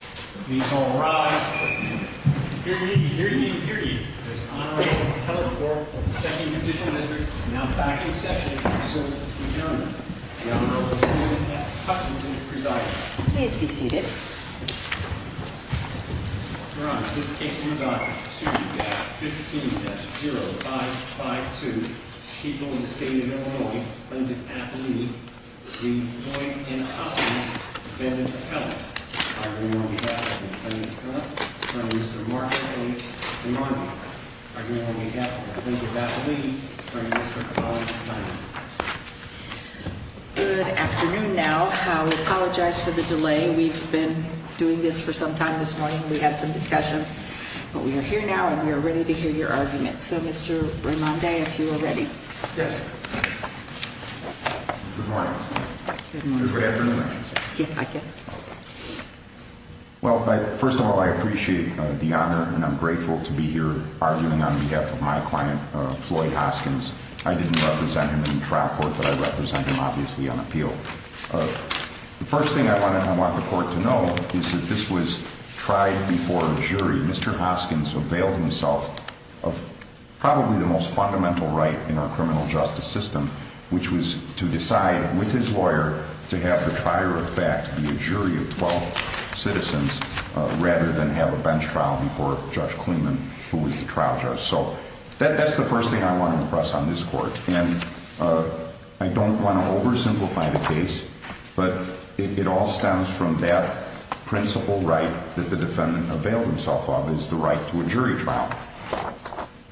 Please all rise. Hear ye, hear ye, hear ye. This honorable appellate court of the Second Judicial District is now back in session and will be served by the two German. The honorable citizen F. Hutchinson presides. Please be seated. Your honors, this case in regard to suit B-15-0552, people in the state of Illinois, plaintiff's appellate, the boy in the costume, defendant's appellate. I hereby pass the plaintiff's comment to Mr. Mark A. Rimondi. I hereby make up the plaintiff's appellate from Mr. Carl Steiner. Good afternoon now. I apologize for the delay. We've been doing this for some time this morning. We had some discussions. But we are here now and we are ready to hear your arguments. So Mr. Rimondi, if you are ready. Yes. Good morning. Good afternoon. I guess. Well, first of all, I appreciate the honor and I'm grateful to be here arguing on behalf of my client, Floyd Hoskins. I didn't represent him in the trial court, but I represent him obviously on appeal. The first thing I want the court to know is that this was tried before jury. Mr. Hoskins availed himself of probably the most fundamental right in our criminal justice system, which was to decide with his lawyer to have the prior effect, the jury of 12 citizens, rather than have a bench trial before Judge Klingman, who was the trial judge. So that's the first thing I want to impress on this court. And I don't want to oversimplify the case, but it all stems from that principal right that the defendant availed himself of is the right to a jury trial.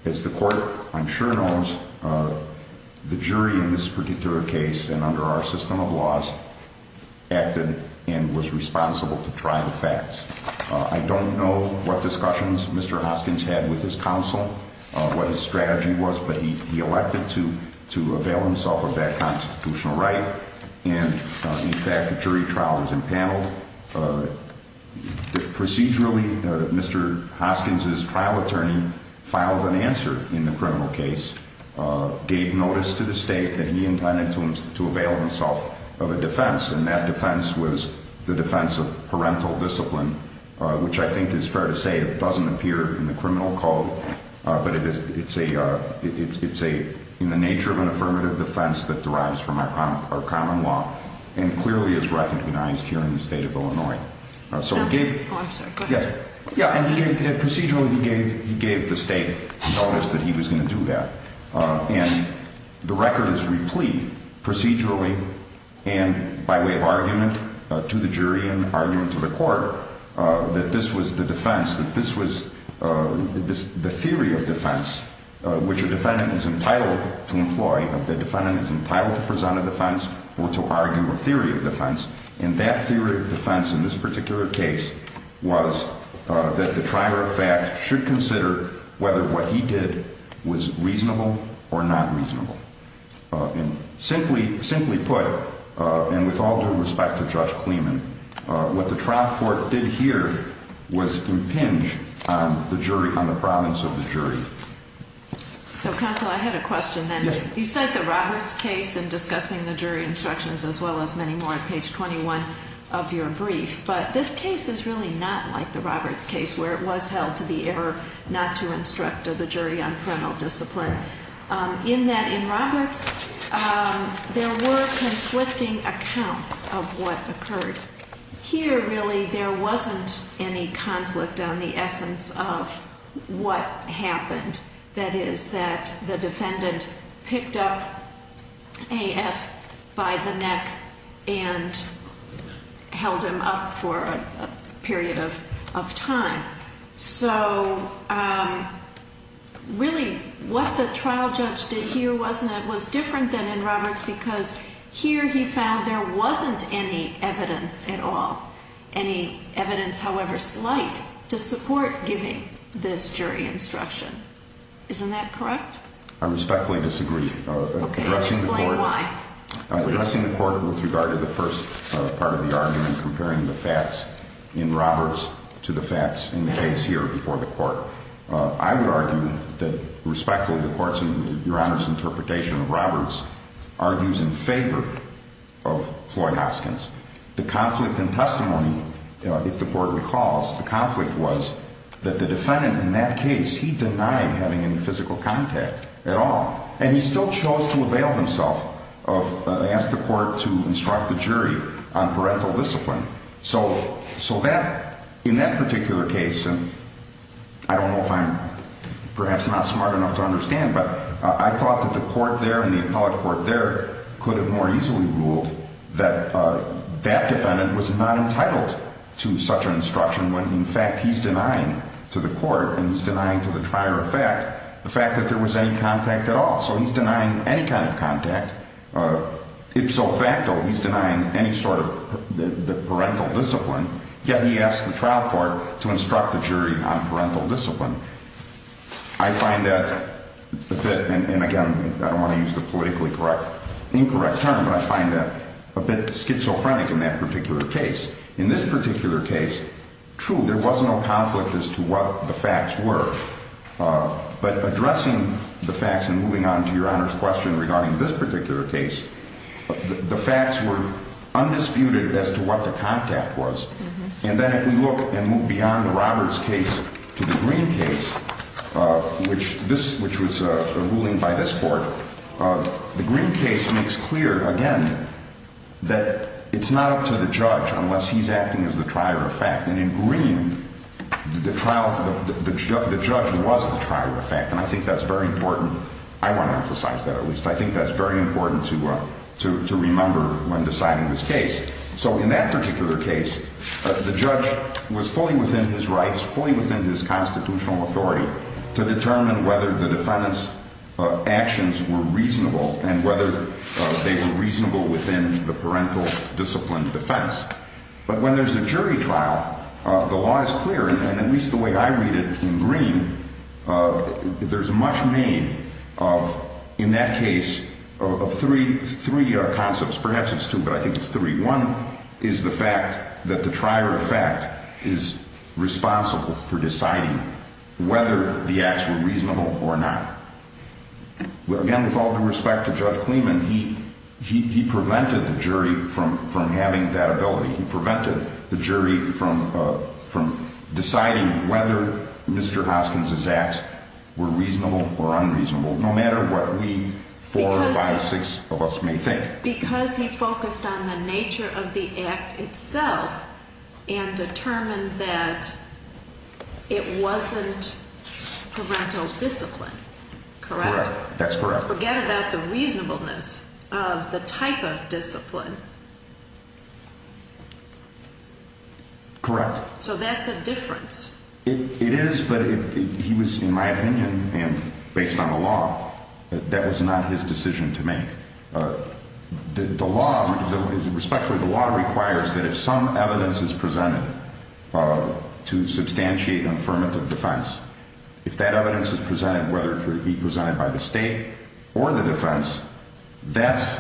As the court, I'm sure, knows the jury in this particular case and under our system of laws acted and was responsible to try the facts. I don't know what discussions Mr. Hoskins had with his counsel, what his strategy was, but he elected to avail himself of that constitutional right. And in fact, the jury trial was impaneled. Procedurally, Mr. Hoskins' trial attorney filed an answer in the criminal case, gave notice to the state that he intended to avail himself of a defense, and that defense was the defense of parental discipline, which I think is fair to say it doesn't appear in the criminal code, but it's in the nature of an affirmative defense that derives from our common law and clearly is recognized here in the state of Illinois. So he gave- I'm sorry, go ahead. Yeah, and procedurally he gave the state notice that he was going to do that. And the record is replete procedurally and by way of argument to the jury and by way of argument to the court that this was the defense, that this was the theory of defense, which a defendant is entitled to employ, that the defendant is entitled to present a defense or to argue a theory of defense. And that theory of defense in this particular case was that the trier of facts should consider whether what he did was reasonable or not reasonable. And simply put, and with all due respect to Judge Kleeman, what the trial court did here was impinge on the jury, on the province of the jury. So counsel, I had a question then. You cite the Roberts case in discussing the jury instructions as well as many more at page 21 of your brief. But this case is really not like the Roberts case where it was held to be error not to instruct the jury on parental discipline. In that in Roberts, there were conflicting accounts of what occurred. Here, really, there wasn't any conflict on the essence of what happened. That is that the defendant picked up AF by the neck and held him up for a period of time. So really, what the trial judge did here was different than in Roberts, because here he found there wasn't any evidence at all. Any evidence, however slight, to support giving this jury instruction. Isn't that correct? I respectfully disagree. Okay, explain why. I've seen the court with regard to the first part of the argument comparing the facts in Roberts to the facts in the case here before the court. I would argue that respectfully, the court's and your Honor's interpretation of Roberts argues in favor of Floyd Hoskins. The conflict in testimony, if the court recalls, the conflict was that the defendant in that case, he denied having any physical contact at all. And he still chose to avail himself of, ask the court to instruct the jury on parental discipline. So that, in that particular case, and I don't know if I'm perhaps not smart enough to understand, but I thought that the court there and the appellate court there could have more easily ruled that that defendant was not entitled to such an instruction when, in fact, he's denying to the court and he's denying to the prior effect the fact that there was any contact at all. So he's denying any kind of contact. Ipso facto, he's denying any sort of parental discipline. Yet he asked the trial court to instruct the jury on parental discipline. I find that, and again, I don't want to use the politically incorrect term, but I find that a bit schizophrenic in that particular case. In this particular case, true, there was no conflict as to what the facts were. But addressing the facts and moving on to Your Honor's question regarding this particular case, the facts were undisputed as to what the contact was. And then if we look and move beyond the Roberts case to the Green case, which was a ruling by this court, the Green case makes clear, again, that it's not up to the judge unless he's acting as the prior effect. And in Green, the trial, the judge was the prior effect. And I think that's very important. I want to emphasize that, at least. I think that's very important to remember when deciding this case. So in that particular case, the judge was fully within his rights, fully within his constitutional authority to determine whether the defendant's actions were reasonable and whether they were reasonable within the parental discipline defense. But when there's a jury trial, the law is clear, and at least the way I read it in Green, there's much made of, in that case, of three concepts. Perhaps it's two, but I think it's three. One is the fact that the prior effect is responsible for deciding whether the acts were reasonable or not. Again, with all due respect to Judge Kleeman, he prevented the jury from having that ability. He prevented the jury from deciding whether Mr. Hoskins's acts were reasonable or unreasonable, no matter what we, four or five, six of us may think. Because he focused on the nature of the act itself and determined that it wasn't parental discipline, correct? Correct. That's correct. Forget about the reasonableness of the type of discipline. Correct. So that's a difference. It is, but he was, in my opinion, and based on the law, that was not his decision to make. The law, respectfully, the law requires that if some evidence is presented to substantiate an affirmative defense, if that evidence is presented, whether it be presented by the state or the defense, that's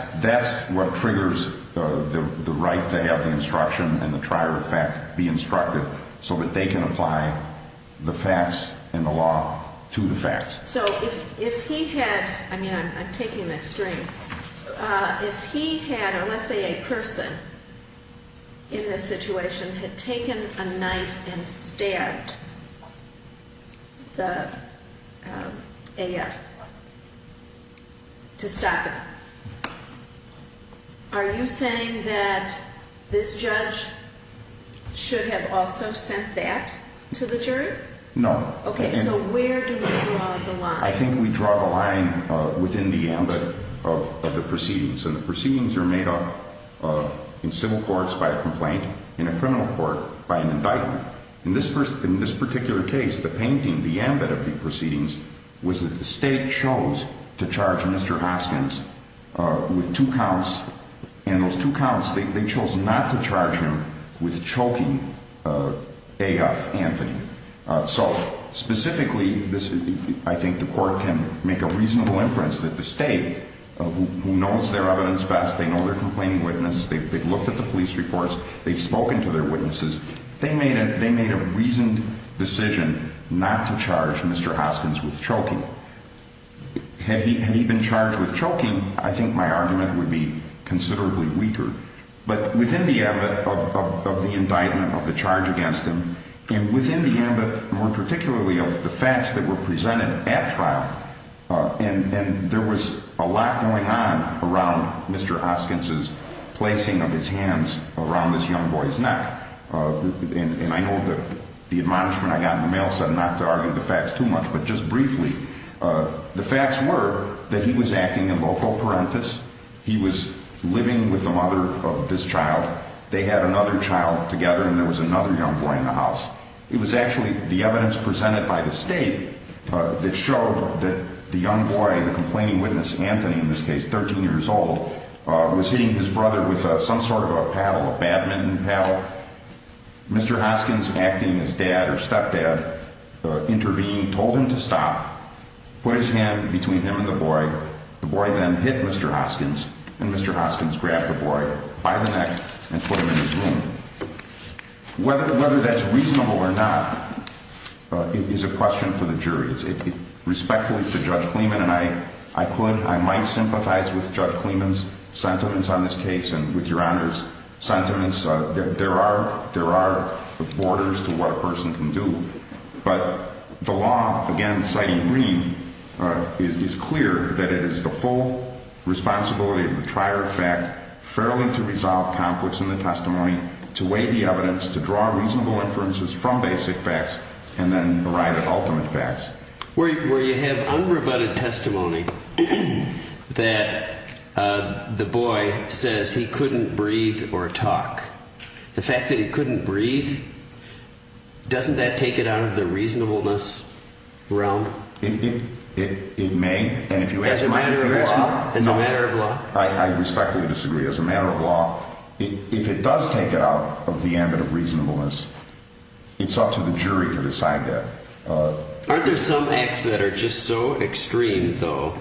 what triggers the right to have the instruction and the prior effect be instructed so that they can apply the facts and the law to the facts. So if he had, I mean, I'm taking the extreme, if he had, or let's say a person in this situation had taken a knife and stabbed the AF to stop it, are you saying that this judge should have also sent that to the jury? No. Okay, so where do we draw the line? I think we draw the line within the ambit of the proceedings. And the proceedings are made up in civil courts by a complaint, in a criminal court by an indictment. In this particular case, the painting, the ambit of the proceedings, was that the state chose to charge Mr. Hoskins with two counts. And those two counts, they chose not to charge him with choking AF Anthony. So specifically, I think the court can make a reasonable inference that the state, who knows their evidence best, they know their complaining witness, they've looked at the police reports, they've spoken to their witnesses. They made a reasoned decision not to charge Mr. Hoskins with choking. Had he been charged with choking, I think my argument would be considerably weaker. But within the ambit of the indictment, of the charge against him, and within the ambit, more particularly, of the facts that were presented at trial. And there was a lot going on around Mr. Hoskins' placing of his hands around this young boy's neck. And I know that the admonishment I got in the mail said not to argue the facts too much. But just briefly, the facts were that he was acting in loco parentis. He was living with the mother of this child. They had another child together, and there was another young boy in the house. It was actually the evidence presented by the state that showed that the young boy, the complaining witness, Anthony in this case, 13 years old, was hitting his brother with some sort of a paddle, a badminton paddle. Mr. Hoskins, acting as dad or stepdad, intervened, told him to stop. Put his hand between him and the boy. The boy then hit Mr. Hoskins. And Mr. Hoskins grabbed the boy by the neck and put him in his room. Whether that's reasonable or not is a question for the jury. Respectfully to Judge Clemon and I, I could, I might sympathize with Judge Clemon's sentiments on this case and with your Honor's sentiments. There are borders to what a person can do. But the law, again, citing Greene, is clear that it is the full responsibility of the trier of fact fairly to resolve conflicts in the testimony, to weigh the evidence, to draw reasonable inferences from basic facts, and then arrive at ultimate facts. Where you have unrebutted testimony that the boy says he couldn't breathe or talk. The fact that he couldn't breathe, doesn't that take it out of the reasonableness realm? It may. As a matter of law? No. I respectfully disagree. As a matter of law, if it does take it out of the ambit of reasonableness, it's up to the jury to decide that. Aren't there some acts that are just so extreme, though,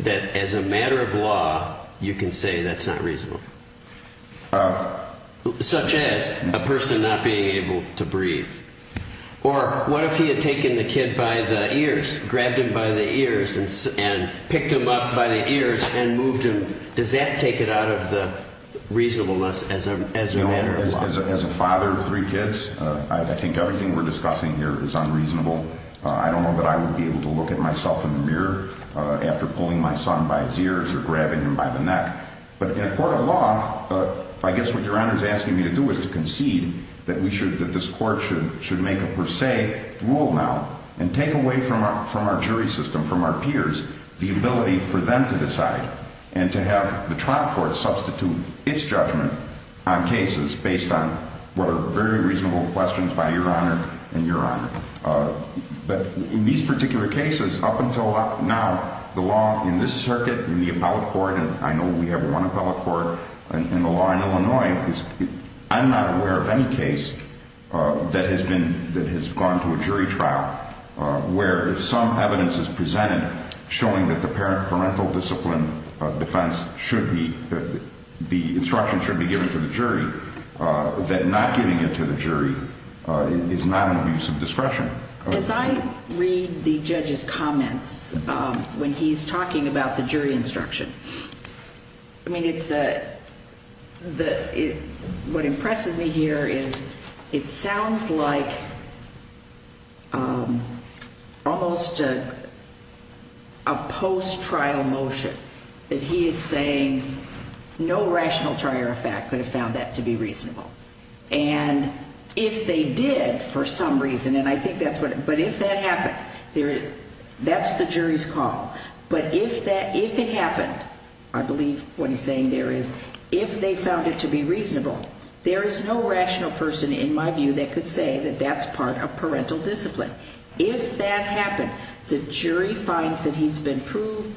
that as a matter of law, you can say that's not reasonable? Such as? A person not being able to breathe. Or what if he had taken the kid by the ears, grabbed him by the ears, and picked him up by the ears and moved him? Does that take it out of the reasonableness as a matter of law? As a father of three kids, I think everything we're discussing here is unreasonable. I don't know that I would be able to look at myself in the mirror after pulling my son by his ears or grabbing him by the neck. But in a court of law, I guess what Your Honor is asking me to do is to concede that this court should make a per se rule now and take away from our jury system, from our peers, the ability for them to decide and to have the trial court substitute its judgment on cases based on what are very reasonable questions by Your Honor and Your Honor. But in these particular cases, up until now, the law in this circuit, in the appellate court, and I know we have one appellate court in the law in Illinois, I'm not aware of any case that has gone to a jury trial where some evidence is presented showing that the parental discipline defense should be, the instruction should be given to the jury, that not giving it to the jury is not an abuse of discretion. As I read the judge's comments when he's talking about the jury instruction, what impresses me here is it sounds like almost a post-trial motion, that he is saying no rational trier of fact could have found that to be reasonable. And if they did, for some reason, and I think that's what, but if that happened, that's the jury's call. But if it happened, I believe what he's saying there is, if they found it to be reasonable, there is no rational person in my view that could say that that's part of parental discipline. If that happened, the jury finds that he's been proved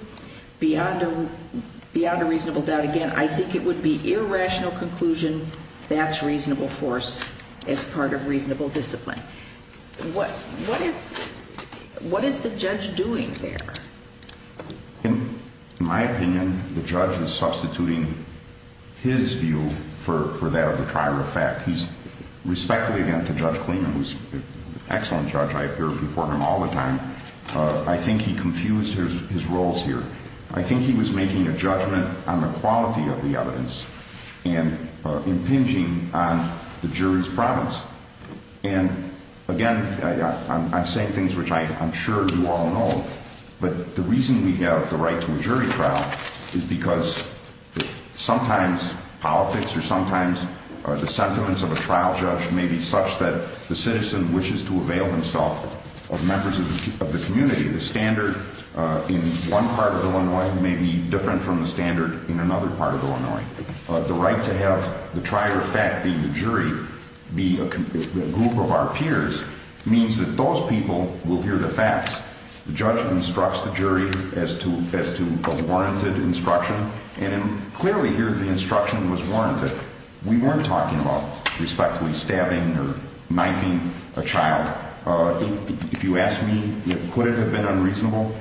beyond a reasonable doubt, again, I think it would be irrational conclusion, that's reasonable force as part of reasonable discipline. What is the judge doing there? In my opinion, the judge is substituting his view for that of the trier of fact. Respectfully, again, to Judge Kleeman, who's an excellent judge, I appear before him all the time, I think he confused his roles here. I think he was making a judgment on the quality of the evidence, and impinging on the jury's province. And again, I'm saying things which I'm sure you all know, but the reason we have the right to a jury trial is because sometimes politics or sometimes the sentiments of a trial judge may be such that the citizen wishes to avail himself of members of the community. The standard in one part of Illinois may be different from the standard in another part of Illinois. The right to have the trier of fact be the jury, be a group of our peers, means that those people will hear the facts. The judge instructs the jury as to a warranted instruction, and clearly here the instruction was warranted. We weren't talking about respectfully stabbing or knifing a child. If you ask me, could it have been unreasonable?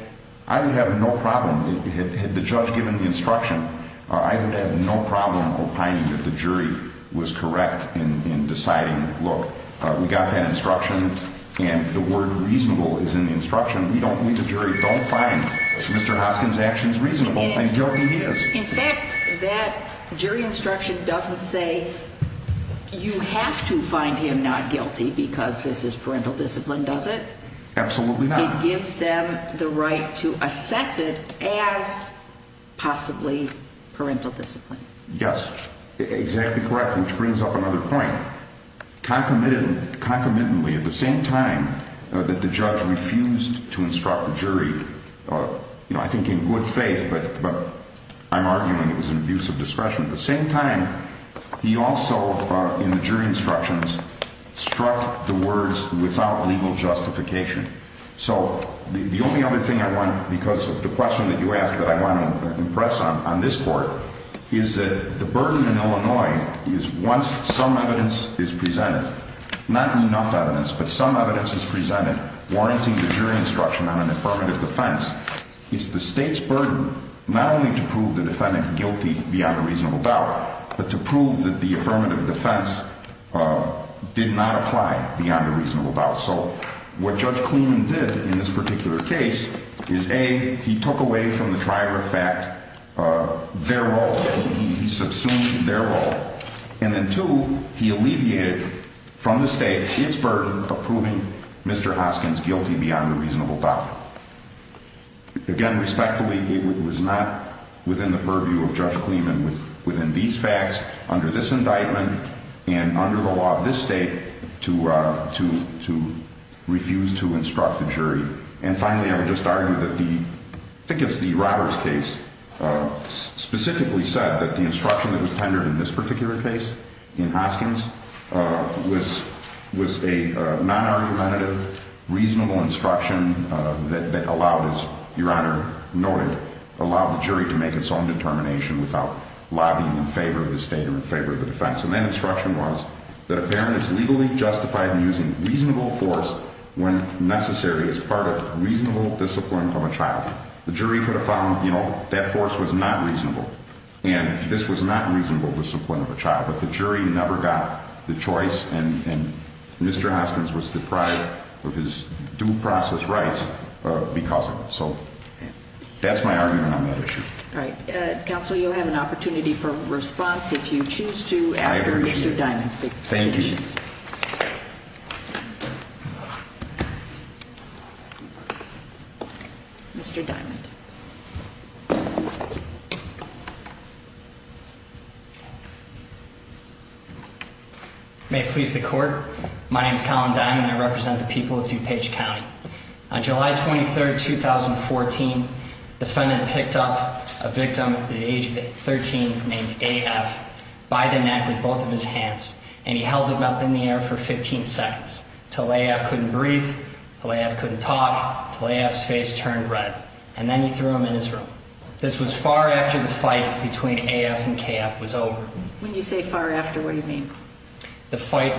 I would have no problem, had the judge given the instruction, I would have no problem opining that the jury was correct in deciding, look, we got that instruction, and the word reasonable is in the instruction, we don't need the jury, don't find Mr. Hoskins' actions reasonable, and guilty he is. In fact, that jury instruction doesn't say you have to find him not guilty because this is parental discipline, does it? Absolutely not. It gives them the right to assess it as possibly parental discipline. Yes, exactly correct, which brings up another point. Concomitantly, at the same time that the judge refused to instruct the jury, I think in good faith, but I'm arguing it was an abuse of discretion, at the same time he also, in the jury instructions, struck the words without legal justification. So the only other thing I want, because of the question that you asked that I want to impress on this court, is that the burden in Illinois is once some evidence is presented, not enough evidence, but some evidence is presented warranting the jury instruction on an affirmative defense, it's the state's burden not only to prove the defendant guilty beyond a reasonable doubt, but to prove that the affirmative defense did not apply beyond a reasonable doubt. So what Judge Kleeman did in this particular case is A, he took away from the trier of fact their role, he subsumed their role, and then two, he alleviated from the state its burden of proving Mr. Hoskins guilty beyond a reasonable doubt. Again, respectfully, it was not within the purview of Judge Kleeman within these facts, under this indictment, and under the law of this state to refuse to instruct the jury. And finally, I would just argue that the, I think it's the Robbers case, specifically said that the instruction that was tendered in this particular case, in Hoskins, was a non-argumentative, reasonable instruction that allowed, as Your Honor noted, allowed the jury to make its own determination without lobbying in favor of the state or in favor of the defense. And that instruction was that a parent is legally justified in using reasonable force when necessary as part of reasonable discipline from a child. The jury could have found, you know, that force was not reasonable, and this was not reasonable discipline of a child, but the jury never got the choice and Mr. Hoskins was deprived of his due process rights because of it. So that's my argument on that issue. Right. Counsel, you'll have an opportunity for response if you choose to after Mr. Diamond finishes. Thank you. Mr. Diamond. May it please the Court. My name is Collin Diamond and I represent the people of DuPage County. On July 23rd, 2014, the defendant picked up a victim at the age of 13 named AF by the neck with both of his hands, and he held him up in the air for 15 seconds till AF couldn't breathe, till AF couldn't talk, till AF's face turned red, and then he threw him in his room. This was far after the fight between AF and KF was over. When you say far after, what do you mean? The fight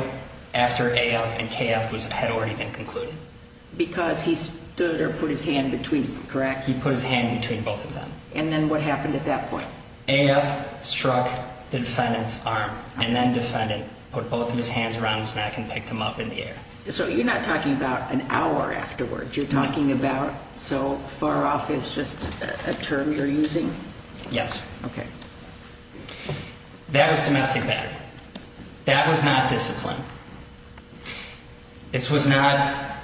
after AF and KF had already been concluded. Because he stood or put his hand between them, correct? He put his hand between both of them. And then what happened at that point? AF struck the defendant's arm. And then the defendant put both of his hands around his neck and picked him up in the air. So you're not talking about an hour afterwards. You're talking about so far off is just a term you're using? Yes. Okay. That was domestic battery. That was not discipline. This was not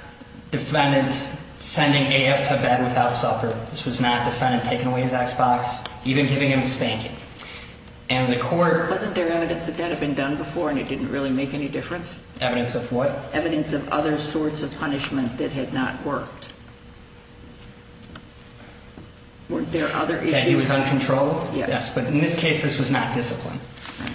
defendant sending AF to bed without supper. This was not defendant taking away his Xbox. Even giving him spanking. And the court... Wasn't there evidence that that had been done before and it didn't really make any difference? Evidence of what? Evidence of other sorts of punishment that had not worked. Weren't there other issues? That he was uncontrolled? Yes. But in this case, this was not discipline.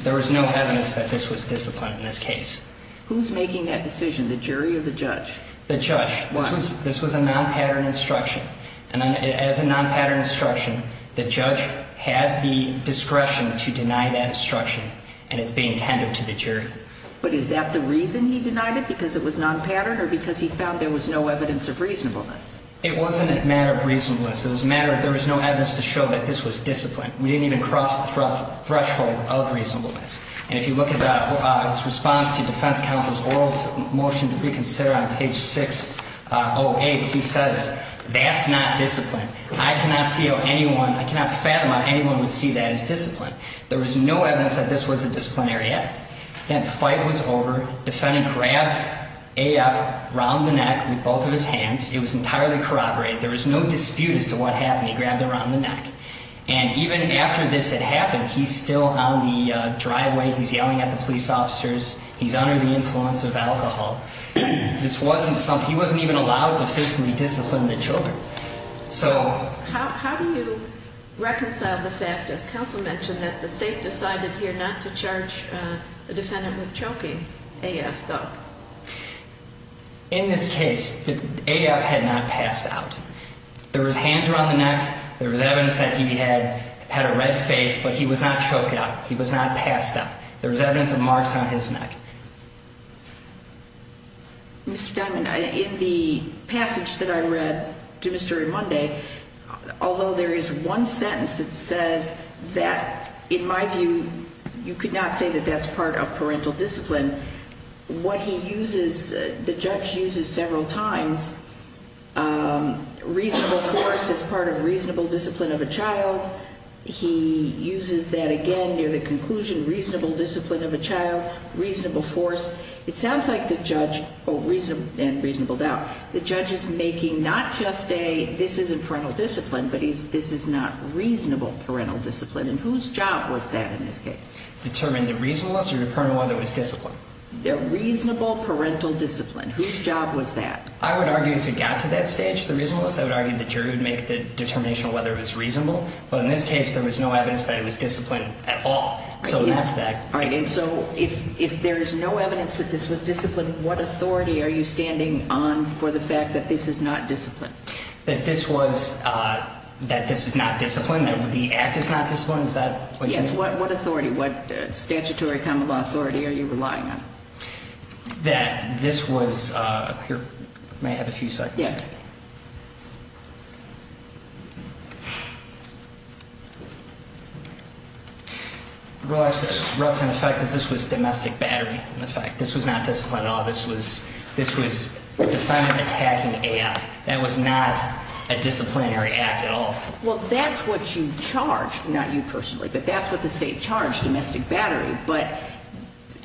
There was no evidence that this was discipline in this case. Who's making that decision, the jury or the judge? The judge. Why? This was a non-pattern instruction. And as a non-pattern instruction, the judge had the discretion to deny that instruction. And it's being tendered to the jury. But is that the reason he denied it? Because it was non-pattern? Or because he found there was no evidence of reasonableness? It wasn't a matter of reasonableness. It was a matter of there was no evidence to show that this was discipline. We didn't even cross the threshold of reasonableness. And if you look at his response to defense counsel's oral motion to reconsider on page 608, he says, that's not discipline. I cannot see how anyone, I cannot fathom how anyone would see that as discipline. There was no evidence that this was a disciplinary act. The fight was over. Defendant grabs AF around the neck with both of his hands. It was entirely corroborated. There was no dispute as to what happened. He grabbed him around the neck. And even after this had happened, he's still on the driveway. He's yelling at the police officers. He's under the influence of alcohol. This wasn't something, he wasn't even allowed to physically discipline the children. So, how do you reconcile the fact, as counsel mentioned, that the state decided here not to charge the defendant with choking, AF thought? In this case, AF had not passed out. There was hands around the neck. There was evidence that he had a red face, but he was not choked out. He was not passed out. There was evidence of marks on his neck. Mr. Diamond, in the passage that I read to Mr. Remond, although there is one sentence that says that, in my view, you could not say that that's part of parental discipline, what he uses, the judge uses several times, reasonable force is part of reasonable discipline of a child. He uses that again near the conclusion, reasonable discipline of a child, reasonable force. It sounds like the judge, and reasonable doubt, the judge is making not just a, this isn't parental discipline, but this is not reasonable parental discipline. And whose job was that in this case? Determine the reasonableness or to determine whether it was discipline? The reasonable parental discipline. Whose job was that? I would argue if it got to that stage, the reasonableness, I would argue the jury would make the determination of whether it was reasonable. But in this case, there was no evidence that it was discipline at all. All right, and so if there is no evidence that this was discipline, what authority are you standing on for the fact that this is not discipline? That this was, that this is not discipline, that the act is not discipline? Yes, what authority, what statutory common law authority are you relying on? That this was, here, may I have a few seconds? Yes. Relax, relax on the fact that this was domestic battery in effect. This was not discipline at all. This was, this was a defendant attacking AF. That was not a disciplinary act at all. Well, that's what you charged, not you personally, but that's what the state charged, domestic battery. But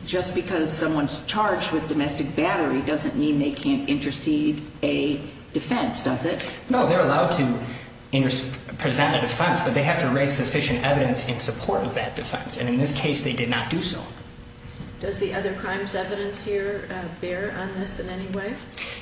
just because someone's charged with domestic battery doesn't mean they can't intercede a defense, does it? No, they're allowed to present a defense, but they have to raise sufficient evidence in support of that defense. And in this case, they did not do so. Does the other crimes evidence here bear on this in any way?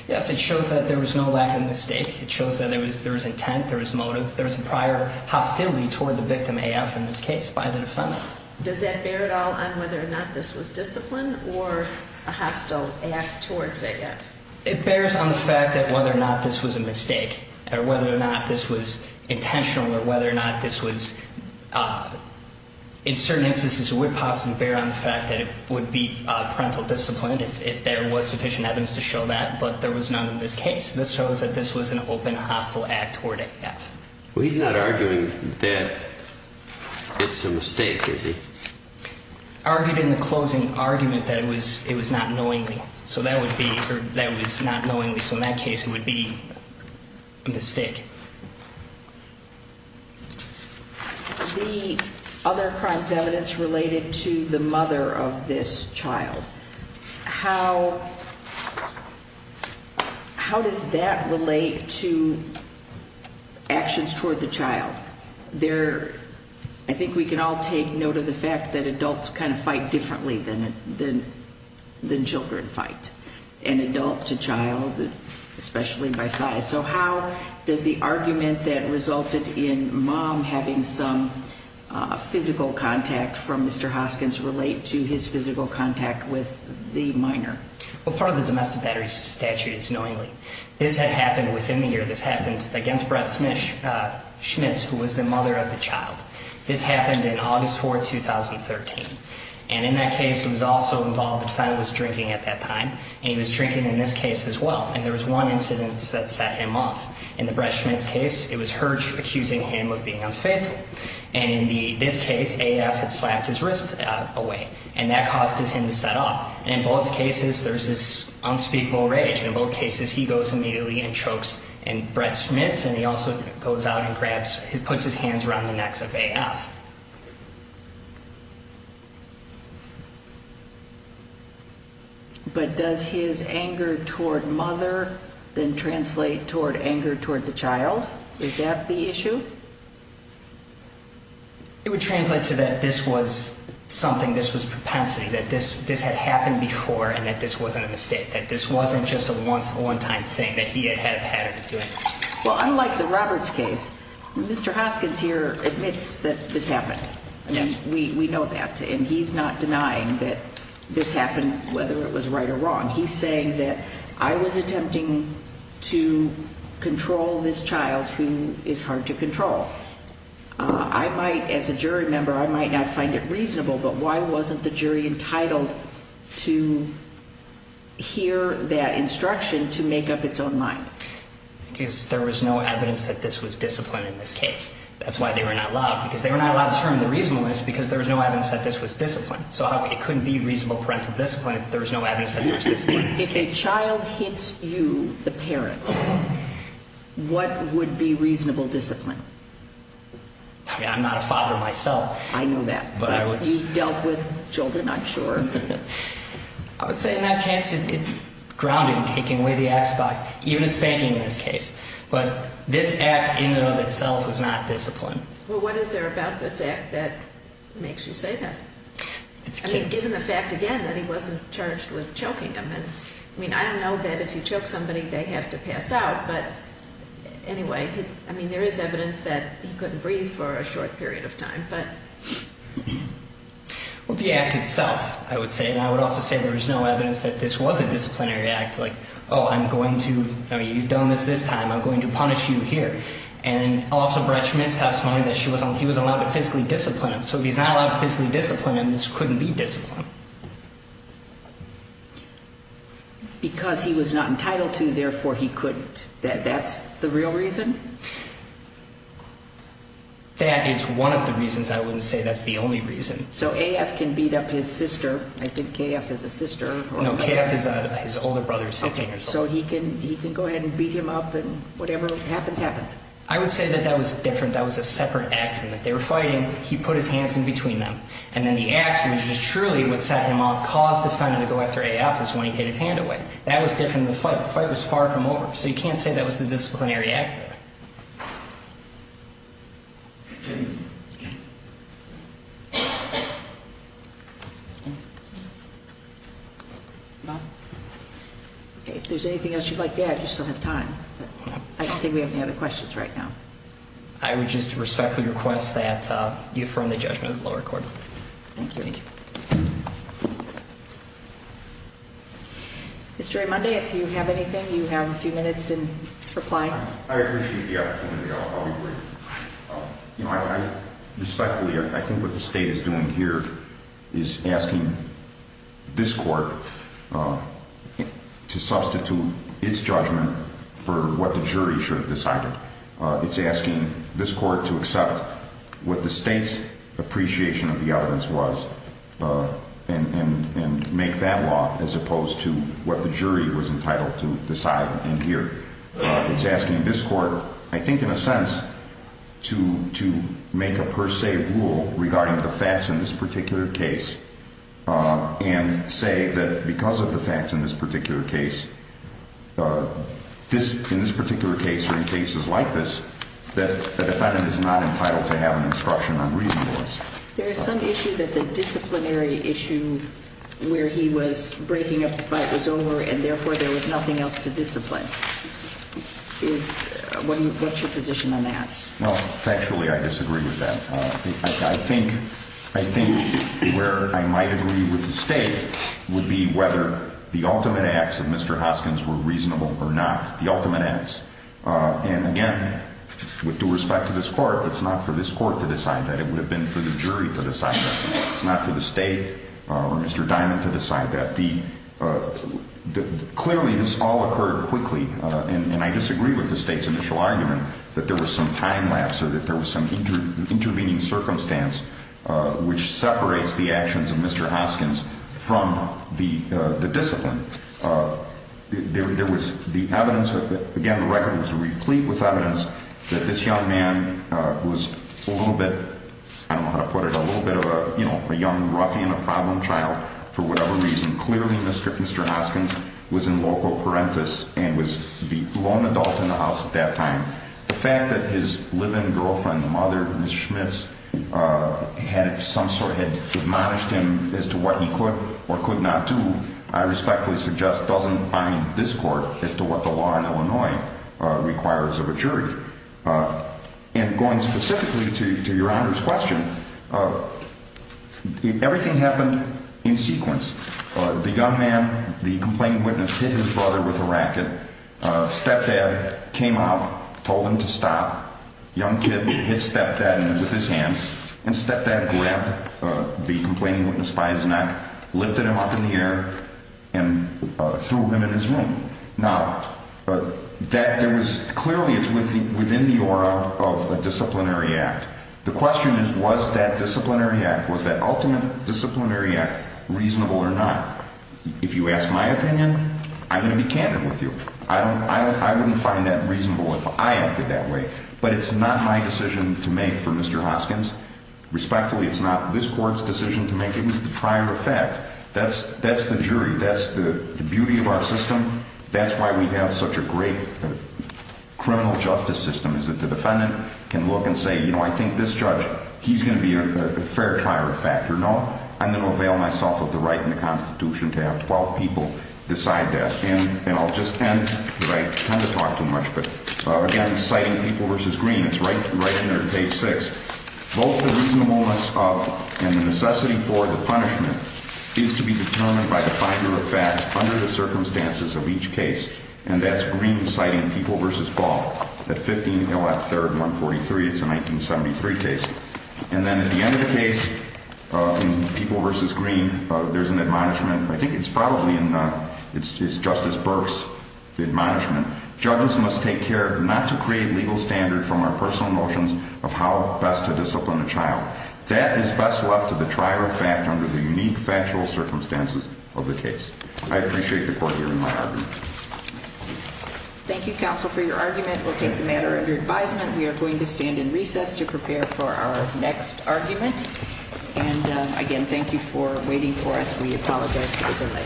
Yes, it shows that there was no lack of mistake. It shows that there was intent, there was motive, there was prior hostility toward the victim, AF, in this case, by the defendant. Does that bear at all on whether or not this was discipline or a hostile act towards AF? It bears on the fact that whether or not this was a mistake or whether or not this was intentional or whether or not this was, in certain instances, it would possibly bear on the fact that it would be parental discipline if there was sufficient evidence to show that, but there was none in this case. This shows that this was an open, hostile act toward AF. Well, he's not arguing that it's a mistake, is he? I argued in the closing argument that it was not knowingly. So that would be, or that was not knowingly. So in that case, it would be a mistake. The other crimes evidence related to the mother of this child, how does that relate to actions toward the child? There, I think we can all take note of the fact that adults kind of fight differently than children fight, and adult to child, especially by size. So how does the argument that resulted in Mom having some physical contact from Mr. Hoskins relate to his physical contact with the minor? Well, part of the domestic battery statute is knowingly. This had happened within the year. This happened against Brett Schmitz, who was the mother of the child. This happened in August 4, 2013. And in that case, he was also involved in family drinking at that time, and he was drinking in this case as well. And there was one incident that set him off. In the Brett Schmitz case, it was her accusing him of being unfaithful. And in this case, AF had slapped his wrist away, and that caused him to set off. And in both cases, there's this unspeakable rage. In both cases, he goes immediately and chokes Brett Schmitz, and he also goes out and puts his hands around the necks of AF. But does his anger toward mother then translate toward anger toward the child? Is that the issue? It would translate to that this was something, this was propensity, that this had happened before and that this wasn't a mistake, that this wasn't just a once-in-a-lifetime thing that he had had to do. Well, unlike the Roberts case, Mr. Hoskins here admits that this was not a mistake. Yes. We know that. And he's not denying that this happened, whether it was right or wrong. He's saying that, I was attempting to control this child who is hard to control. I might, as a jury member, I might not find it reasonable, but why wasn't the jury entitled to hear that instruction to make up its own mind? Because there was no evidence that this was discipline in this case. That's why they were not allowed. Because they were not allowed to determine the reasonableness because there was no evidence that this was discipline. So it couldn't be reasonable parental discipline if there was no evidence that there was discipline in this case. If a child hits you, the parent, what would be reasonable discipline? I mean, I'm not a father myself. I know that. You've dealt with children, I'm sure. I would say in that case it grounded in taking away the X-Box, even in spanking in this case. But this act in and of itself was not discipline. Well, what is there about this act that makes you say that? I mean, given the fact, again, that he wasn't charged with choking him. I mean, I don't know that if you choke somebody, they have to pass out. But anyway, I mean, there is evidence that he couldn't breathe for a short period of time. Well, the act itself, I would say. And I would also say there was no evidence that this was a disciplinary act. Like, oh, I'm going to, you've done this this time, I'm going to punish you here. And also Brett Schmidt's testimony that he was allowed to physically discipline him. So if he's not allowed to physically discipline him, this couldn't be discipline. Because he was not entitled to, therefore he couldn't. That's the real reason? That is one of the reasons. I wouldn't say that's the only reason. So AF can beat up his sister. I think AF is a sister. No, KF, his older brother, is 15 years old. So he can go ahead and beat him up and whatever happens, happens. I would say that that was different. That was a separate action. They were fighting. He put his hands in between them. And then the action, which is truly what set him off, caused the defendant to go after AF is when he hid his hand away. That was different than the fight. The fight was far from over. So you can't say that was the disciplinary act there. No? Okay, if there's anything else you'd like to add, you still have time. I don't think we have any other questions right now. I would just respectfully request that you affirm the judgment of the lower court. Thank you. Mr. Raymonde, if you have anything, you have a few minutes in reply. I appreciate the opportunity. I'll be brief. You know, I respectfully, I think what the state is doing here is asking this court to substitute its judgment for what the jury should have decided. It's asking this court to accept what the state's appreciation of the evidence was and make that law as opposed to what the jury was entitled to decide in here. It's asking this court, I think in a sense, to make a per se rule regarding the facts in this particular case and say that because of the facts in this particular case, in this particular case or in cases like this, that the defendant is not entitled to have an instruction on reasonableness. There is some issue that the disciplinary issue where he was breaking up the fight was over and therefore there was nothing else to discipline. What's your position on that? Well, factually I disagree with that. I think where I might agree with the state would be whether the ultimate acts of Mr. Hoskins were reasonable or not, the ultimate acts. And again, with due respect to this court, it's not for this court to decide that. It would have been for the jury to decide that. It's not for the state or Mr. Diamond to decide that. Clearly this all occurred quickly and I disagree with the state's initial argument that there was some time lapse or that there was some intervening circumstance which separates the actions of Mr. Hoskins from the discipline. There was the evidence, again the record was replete with evidence that this young man was a little bit, I don't know how to put it, a little bit of a young ruffian, a problem child for whatever reason. Clearly Mr. Hoskins was in loco parentis and was the lone adult in the house at that time. The fact that his live-in girlfriend, the mother, Ms. Schmitz, had some sort of, had admonished him as to what he could or could not do, I respectfully suggest doesn't bind this court as to what the law in Illinois requires of a jury. And going specifically to your Honor's question, everything happened in sequence. The young man, the complaining witness, hit his brother with a racket, stepdad came out, told him to stop, young kid hit stepdad with his hands and stepdad grabbed the complaining witness by his neck, lifted him up in the air and threw him in his room. Now, clearly it's within the aura of a disciplinary act. The question is was that disciplinary act, was that ultimate disciplinary act reasonable or not? If you ask my opinion, I'm going to be candid with you. I wouldn't find that reasonable if I acted that way. But it's not my decision to make for Mr. Hoskins. Respectfully it's not this court's decision to make, it was the prior effect. That's the jury, that's the beauty of our system, that's why we have such a great criminal justice system is that the defendant can look and say, you know, I think this judge, he's going to be a fair trial factor. No, I'm going to avail myself of the right in the Constitution to have 12 people decide that. And I'll just end, because I tend to talk too much, but again, citing People v. Green, it's right in there, page 6. Both the reasonableness of and the necessity for the punishment is to be determined by the binder of fact under the circumstances of each case. And that's Green citing People v. Ball at 15 Allot 3rd, 143. It's a 1973 case. And then at the end of the case, in People v. Green, there's an admonishment. I think it's probably in Justice Burke's admonishment. Judges must take care not to create legal standard from our personal notions of how best to discipline a child. That is best left to the trial of fact under the unique factual circumstances of the case. I appreciate the court hearing my argument. Thank you, counsel, for your argument. We'll take the matter under advisement. We are going to stand in recess to prepare for our next argument. And again, thank you for waiting for us. We apologize for the delay. Thank you.